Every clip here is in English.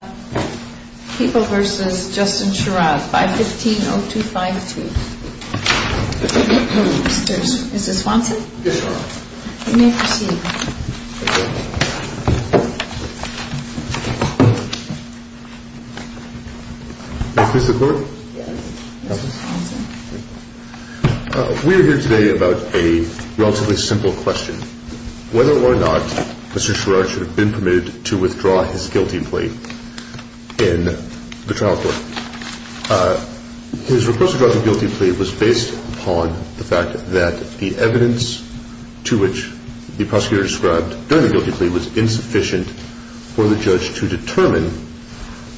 We are here today about a relatively simple question. Whether or not Mr. Sherrard should be permitted to withdraw his guilty plea in the trial court. His request to withdraw his guilty plea was based upon the fact that the evidence to which the prosecutor described during the guilty plea was insufficient for the judge to determine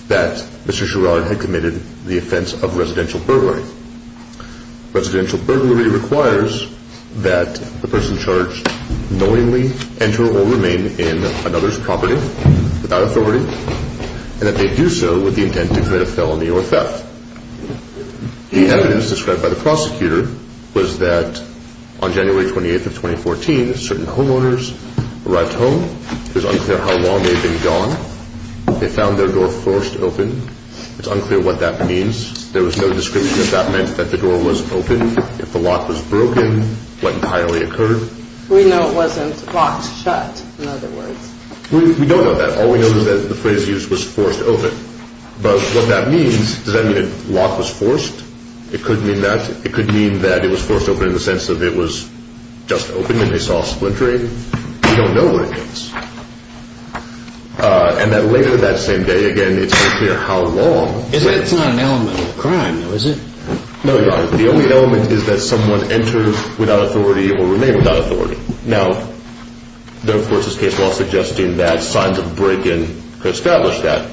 that Mr. Sherrard had committed the offence of residential burglary. Residential burglary requires that the person charged knowingly enter or remain in another court. The evidence described by the prosecutor was that on January 28th of 2014 certain homeowners arrived home. It was unclear how long they had been gone. They found their door forced open. It's unclear what that means. There was no description if that meant that the door was open, if the lock was broken, what entirely occurred. We know it wasn't locked shut in other words. We don't know that. All we know is that the phrase used was forced open. But what that means, does that mean the lock was forced? It could mean that. It could mean that it was forced open in the sense that it was just open and they saw splintering. We don't know what it means. And that later that same day again it's unclear how long. It's not an element of a crime though is it? No Your Honor. The only element is that someone entered without authority or remained without authority. Now the court is case law suggesting that signs of a break in could establish that.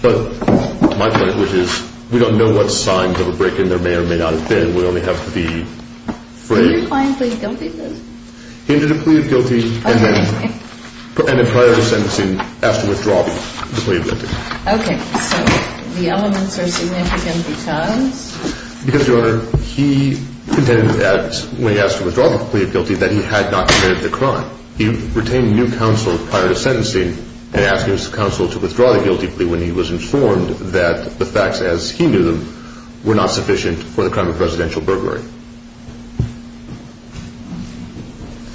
But my point which is we don't know what signs of a break in there may or may not have been. We only have the phrase. Did your client plead guilty to this? He ended up pleading guilty and then prior to sentencing asked to withdraw the plea of limiting. Okay. So the elements are significant because? Because Your Honor, he contended that when he asked to withdraw the plea of guilty that he had not committed the crime. He retained new counsel prior to sentencing and asked his counsel to withdraw the guilty plea when he was informed that the facts as he knew them were not sufficient for the crime of residential burglary.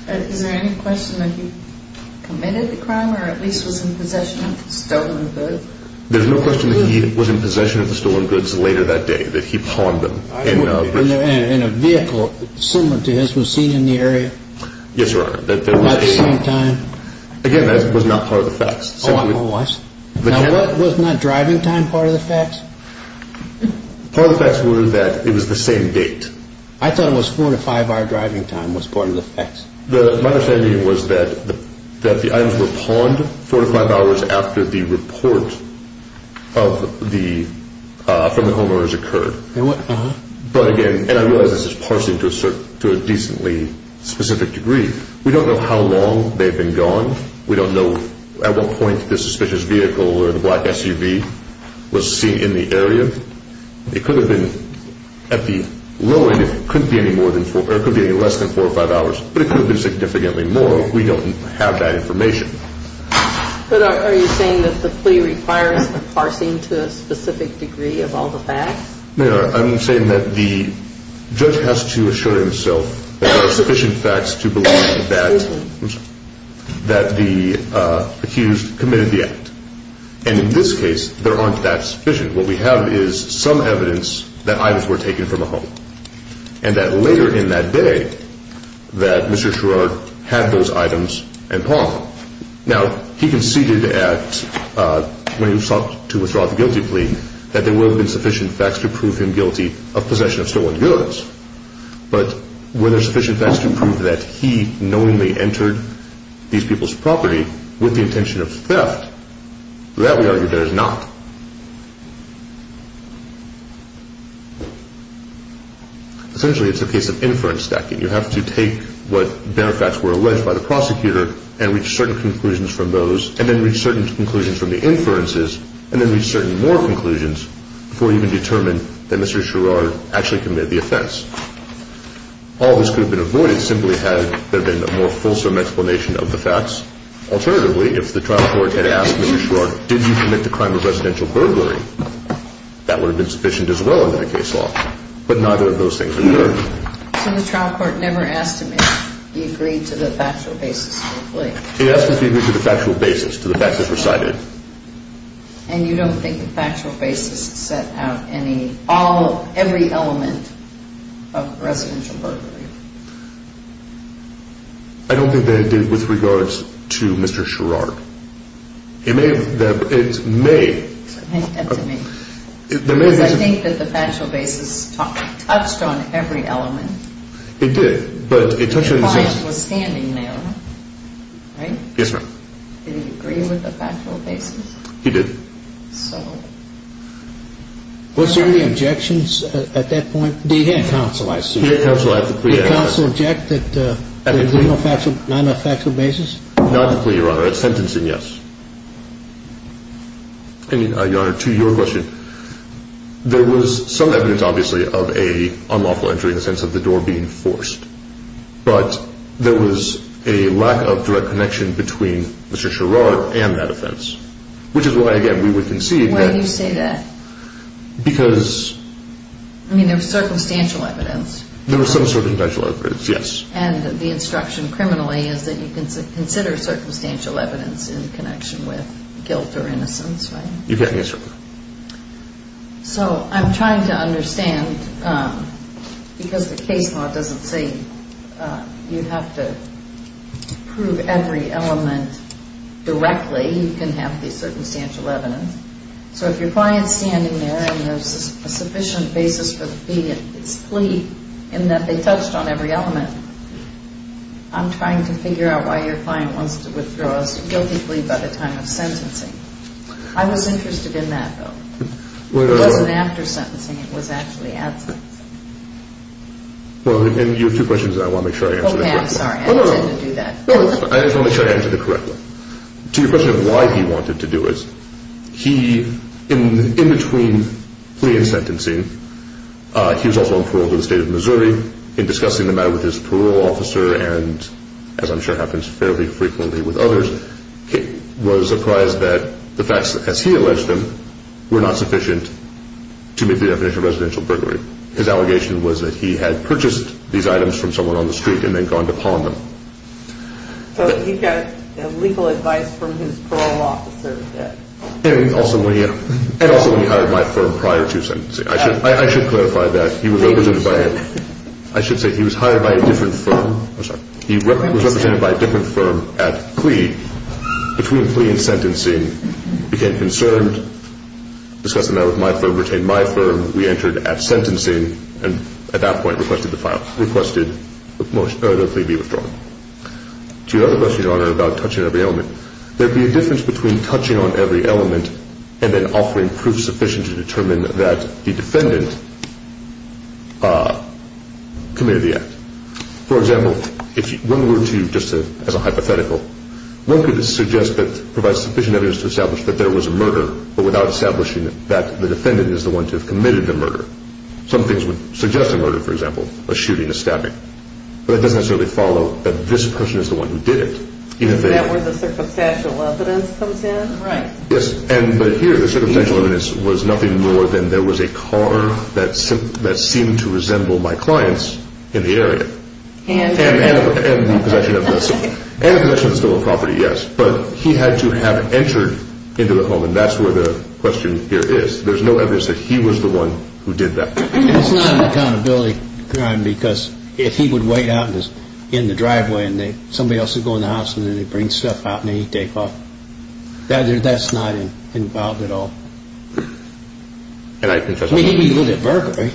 Is there any question that he committed the crime or at least was in possession of the stolen goods? There's no question that he was in possession of the stolen goods later that day that he pawned them. And a vehicle similar to his was seen in the area? Yes Your Honor. At the same time? Again that was not part of the facts. Oh it was? Now wasn't that driving time part of the facts? Part of the facts was that it was the same date. I thought it was four to five hour driving time was part of the facts. My understanding was that the items were pawned four to five hours after the report from the homeowners occurred. But again, and I realize this is parsing to a decently specific degree, we don't know how long they've been gone. We don't know at what point the suspicious vehicle or the black SUV was seen in the area. It could have been at the low end, it could be less than four or five hours, but it could have been significantly more if we don't have that information. But are you saying that the plea requires a parsing to a specific degree of all the facts? No, I'm saying that the judge has to assure himself that there are sufficient facts to believe that the accused committed the act. And in this case, there aren't that sufficient. What we have is some evidence that items were taken from a home. And that later in that day, that Mr. Sherrard had those items and pawned them. Now, he conceded at, when he sought to withdraw the guilty plea, that there would have been sufficient facts to prove him guilty of possession of stolen goods. But were there sufficient facts to prove that he knowingly entered these people's property with the intention of theft? That, we argue, there is not. Essentially, it's a case of inference stacking. You have to take what benefacts were alleged by the prosecutor and reach certain conclusions from those and then reach certain conclusions from the inferences and then reach certain more conclusions before you can determine that Mr. Sherrard actually committed the offense. All this could have been avoided simply had there been a more fulsome explanation of the facts. Alternatively, if the trial court had asked Mr. Sherrard, did you commit the crime of residential burglary, that would have been sufficient as well under the case law. But neither of those things occurred. So the trial court never asked him if he agreed to the factual basis of the plea? He asked if he agreed to the factual basis, to the facts that were cited. And you don't think the factual basis set out every element of residential burglary? I don't think that it did with regards to Mr. Sherrard. It may have. It may. I think that the factual basis touched on every element. It did, but it touched on. Your client was standing there, right? Yes, ma'am. Did he agree with the factual basis? He did. So. Was there any objections at that point? He had counsel, I assume. He had counsel at the plea. Did counsel object at the non-factual basis? Not at the plea, Your Honor. At sentencing, yes. And, Your Honor, to your question, there was some evidence, obviously, of an unlawful entry in the sense of the door being forced. But there was a lack of direct connection between Mr. Sherrard and that offense, which is why, again, we would concede that. Why do you say that? Because. I mean, there was circumstantial evidence. There was some circumstantial evidence, yes. And the instruction criminally is that you can consider circumstantial evidence in connection with guilt or innocence, right? You can, yes, Your Honor. So I'm trying to understand, because the case law doesn't say you have to prove every element directly, you can have the circumstantial evidence. So if your client's standing there and there's a sufficient basis for the plea in that they touched on every element, I'm trying to figure out why your client wants to withdraw his guilty plea by the time of sentencing. I was interested in that, though. It wasn't after sentencing. It was actually at sentencing. Well, and you have two questions, and I want to make sure I answer them. Oh, yeah, I'm sorry. I didn't intend to do that. No, no, no. I just want to make sure I answer the correct one. To your question of why he wanted to do it, he, in between plea and sentencing, he was also on parole in the state of Missouri. In discussing the matter with his parole officer and, as I'm sure happens fairly frequently with others, was surprised that the facts, as he alleged them, were not sufficient to meet the definition of residential burglary. His allegation was that he had purchased these items from someone on the street and then gone to pawn them. So he got legal advice from his parole officer. And also when he hired my firm prior to sentencing. I should clarify that. I should say he was hired by a different firm. I'm sorry. He was represented by a different firm at plea. Between plea and sentencing, he became concerned. Discussing that with my firm, retained my firm. We entered at sentencing and, at that point, requested the plea be withdrawn. To your other question, Your Honor, about touching every element, there would be a difference between touching on every element and then offering proof sufficient to determine that the defendant committed the act. For example, if one were to, just as a hypothetical, one could suggest that provides sufficient evidence to establish that there was a murder, but without establishing that the defendant is the one to have committed the murder. Some things would suggest a murder, for example, a shooting, a stabbing. But it doesn't necessarily follow that this person is the one who did it. Is that where the circumstantial evidence comes in? Right. Yes. But here the circumstantial evidence was nothing more than there was a car that seemed to resemble my client's in the area. And the possession of the stolen property, yes. But he had to have entered into the home, and that's where the question here is. There's no evidence that he was the one who did that. It's not an accountability crime because if he would wait out in the driveway and somebody else would go in the house and then they'd bring stuff out and then he'd take off. That's not involved at all. I mean, he lived at Burberry.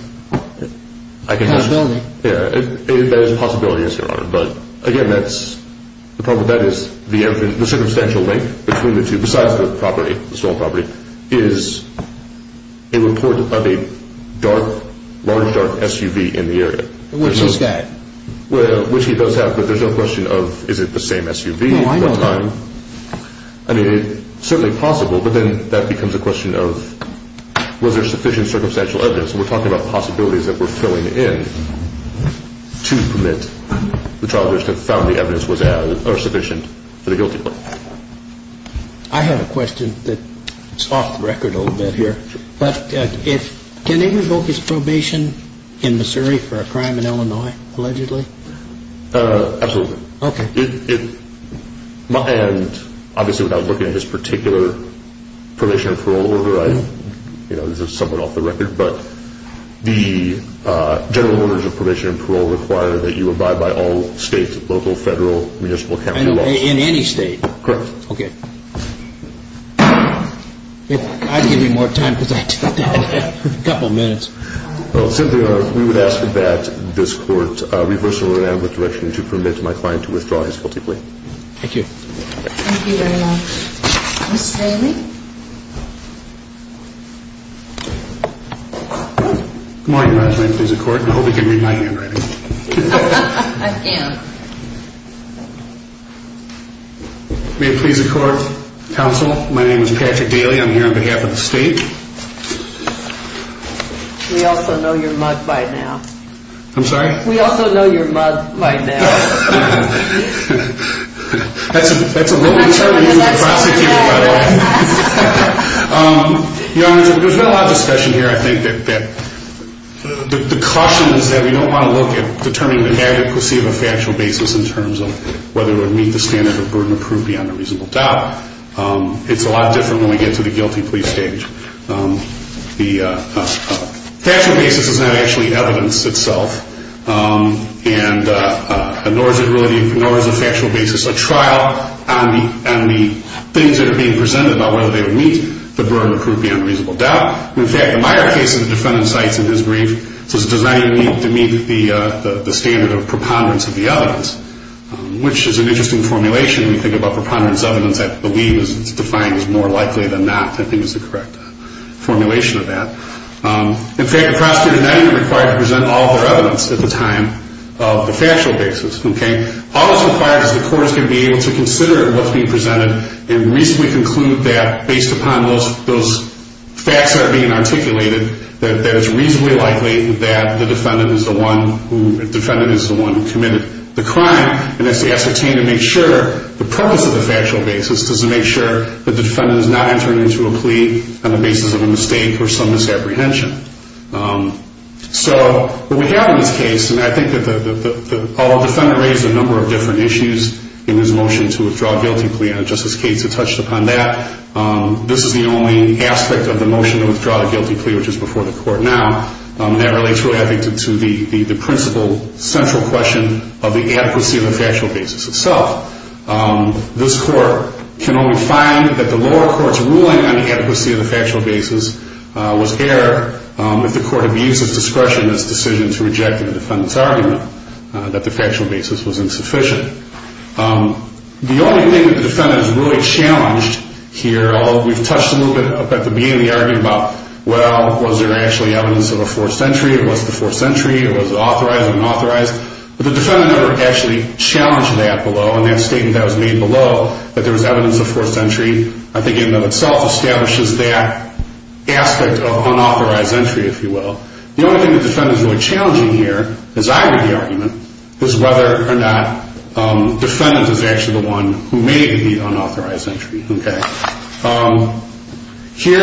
That is a possibility, yes, Your Honor. But, again, the problem with that is the circumstantial link between the two, besides the property, the stolen property, is a report of a large, dark SUV in the area. Which he's got. Which he does have, but there's no question of is it the same SUV, what time. No, I know that. I mean, it's certainly possible, but then that becomes a question of was there sufficient circumstantial evidence? We're talking about possibilities that we're filling in to permit the trial that found the evidence was sufficient for the guilty plea. I have a question that's off the record a little bit here. Can they revoke his probation in Missouri for a crime in Illinois, allegedly? Absolutely. Okay. And, obviously, without looking at his particular probation and parole order, this is somewhat off the record, but the general orders of probation and parole require that you abide by all states, local, federal, municipal, county laws. In any state? Correct. Okay. I'd give you more time because I took a couple minutes. Well, simply, Your Honor, we would ask that this court reverse the order and with direction to permit my client to withdraw his guilty plea. Thank you. Thank you very much. Mr. Daly? Good morning, Your Honor. May it please the court. I hope you can read my handwriting. I can. May it please the court, counsel, my name is Patrick Daly. I'm here on behalf of the state. We also know you're mud by now. I'm sorry? We also know you're mud by now. That's a little uncertain. Your Honor, there's been a lot of discussion here. I think that the caution is that we don't want to look at determining the adequacy of a factual basis in terms of whether it would meet the standard of burden of proof beyond a reasonable doubt. It's a lot different when we get to the guilty plea stage. The factual basis is not actually evidence itself. And nor is it really a factual basis, a trial on the things that are being presented about whether they would meet the burden of proof beyond a reasonable doubt. In fact, in my case, the defendant cites in his brief, it's designed to meet the standard of preponderance of the evidence, which is an interesting formulation when you think about preponderance of evidence. I believe it's defined as more likely than not. I think it's the correct formulation of that. In fact, the prosecutor is not even required to present all of their evidence at the time of the factual basis. All that's required is the courts can be able to consider what's being presented and reasonably conclude that based upon those facts that are being articulated, that it's reasonably likely that the defendant is the one who committed the crime and has to ascertain and make sure the purpose of the factual basis is to make sure that the defendant is not entering into a plea on the basis of a mistake or some misapprehension. So what we have in this case, and I think that the defendant raised a number of different issues in his motion to withdraw a guilty plea, and Justice Cates had touched upon that. This is the only aspect of the motion to withdraw a guilty plea, which is before the court now, that relates, I think, to the principal central question of the adequacy of the factual basis itself. This court can only find that the lower court's ruling on the adequacy of the factual basis was error if the court abuses discretion in its decision to reject the defendant's argument that the factual basis was insufficient. The only thing that the defendant is really challenged here, although we've touched a little bit at the beginning of the argument about, well, was there actually evidence of a forced entry, or was the forced entry, or was it authorized or unauthorized? But the defendant never actually challenged that below, and that statement that was made below, that there was evidence of forced entry, I think in and of itself establishes that aspect of unauthorized entry, if you will. The only thing the defendant is really challenging here, as I read the argument, is whether or not the defendant is actually the one who made the unauthorized entry. Here,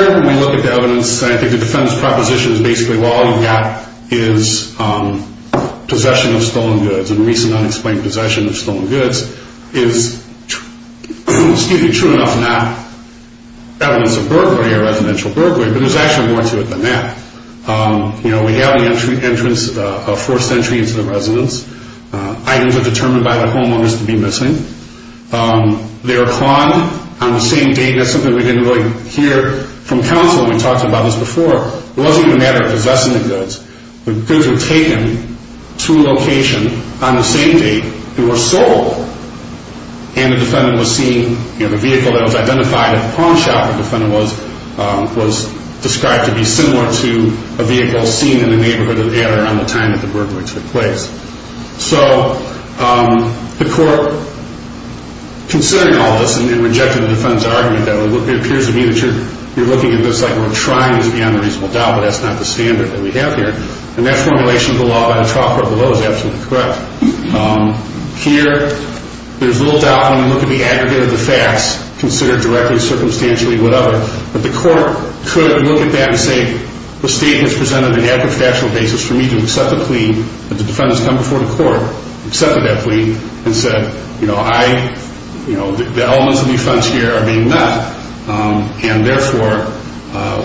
when we look at the evidence, I think the defendant's proposition is basically, well, all you've got is possession of stolen goods, and recent unexplained possession of stolen goods is, excuse me, true enough not evidence of burglary or residential burglary, but there's actually more to it than that. You know, we have the entrance of forced entry into the residence. Items are determined by the homeowners to be missing. They are clawed on the same date. That's something we didn't really hear from counsel when we talked about this before. It wasn't even a matter of possessing the goods. The goods were taken to a location on the same date they were sold, and the defendant was seen, you know, the vehicle that was identified at the pawn shop, the defendant was described to be similar to a vehicle seen in the neighborhood at the time that the burglary took place. So the court, considering all this, and rejected the defendant's argument, it appears to me that you're looking at this like we're trying to be on a reasonable doubt, but that's not the standard that we have here. And that formulation of the law by the trial court below is absolutely correct. Here, there's little doubt when we look at the aggregate of the facts, considered directly, circumstantially, whatever, that the court could look at that and say the statement is presented on an adequate factual basis for me to accept the plea that the defendants come before the court, accepted that plea, and said, you know, I, you know, the elements of the offense here are being met, and therefore,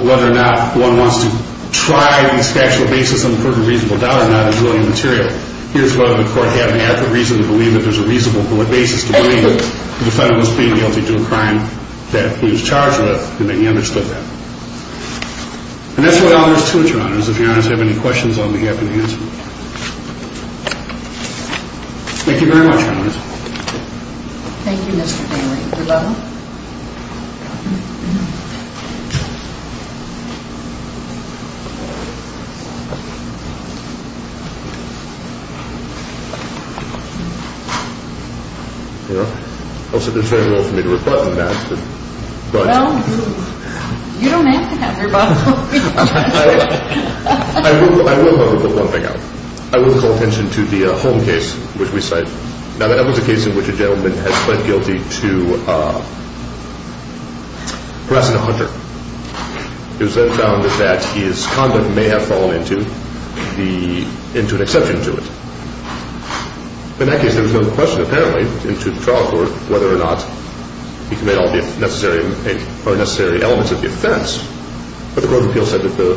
whether or not one wants to try this factual basis on the purpose of reasonable doubt or not is really immaterial. Here's whether the court had an adequate reason to believe that there's a reasonable basis to believe that the defendant was being guilty to a crime that he was charged with and that he understood that. And that's what all there is to it, Your Honors. If you guys have any questions, I'll be happy to answer them. Thank you very much, Your Honors. Thank you, Mr. Bailey. You're welcome. I'll sit this very well for me to rebut and that. Well, you don't have to have rebuttal. I will, however, put one thing out. I will call attention to the Holm case, which we cite. Now, that was a case in which a gentleman had pled guilty to harassing a hunter. It was then found that his conduct may have fallen into an exception to it. In that case, there was no question, apparently, into the trial court whether or not he committed all the necessary elements of the offense. But the court of appeals said that the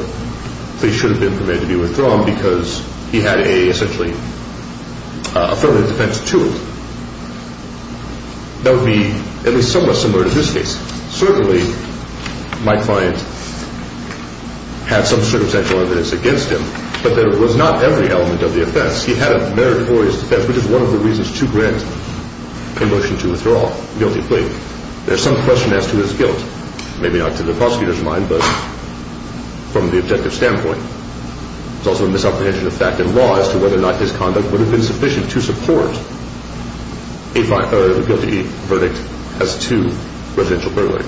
plea should have been permitted to be withdrawn because he had a, essentially, affirmative defense to it. That would be at least somewhat similar to this case. Certainly, my client had some circumstantial evidence against him, but there was not every element of the offense. He had a meritorious defense, which is one of the reasons to grant a motion to withdraw guilty plea. There's some question as to his guilt, maybe not to the prosecutor's mind, but from the objective standpoint. There's also a misapprehension of fact and law as to whether or not his conduct would have been sufficient to support a guilty verdict as to residential burglary.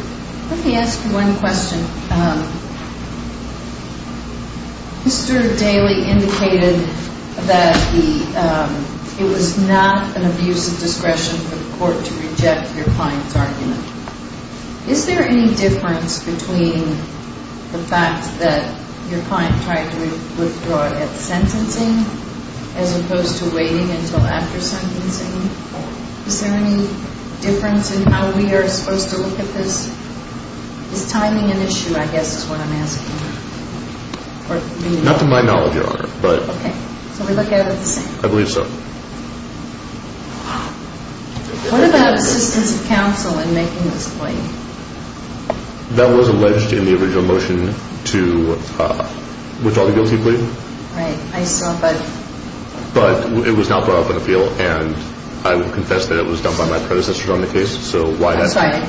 Let me ask you one question. Mr. Daley indicated that it was not an abuse of discretion for the court to reject your client's argument. Is there any difference between the fact that your client tried to withdraw it at sentencing as opposed to waiting until after sentencing? Is there any difference in how we are supposed to look at this? Is timing an issue, I guess, is what I'm asking? Not to my knowledge, Your Honor. Okay. So we look at it the same? I believe so. What about assistance of counsel in making this plea? That was alleged in the original motion to withdraw the guilty plea. Right. I saw, but... But it was not brought up in appeal, and I would confess that it was done by my predecessors on the case. That's right.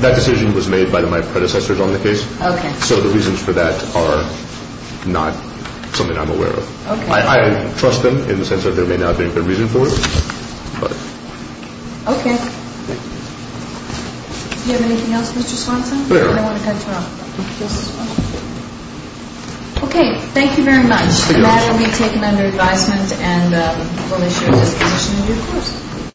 That decision was made by my predecessors on the case. Okay. So the reasons for that are not something I'm aware of. I trust them in the sense that they may not have a good reason for it, but... Okay. Do you have anything else, Mr. Swanson? No. I don't want to cut you off. Okay. Thank you very much. Thank you, Your Honor. The matter will be taken under advisement, and we'll issue a disposition in due course.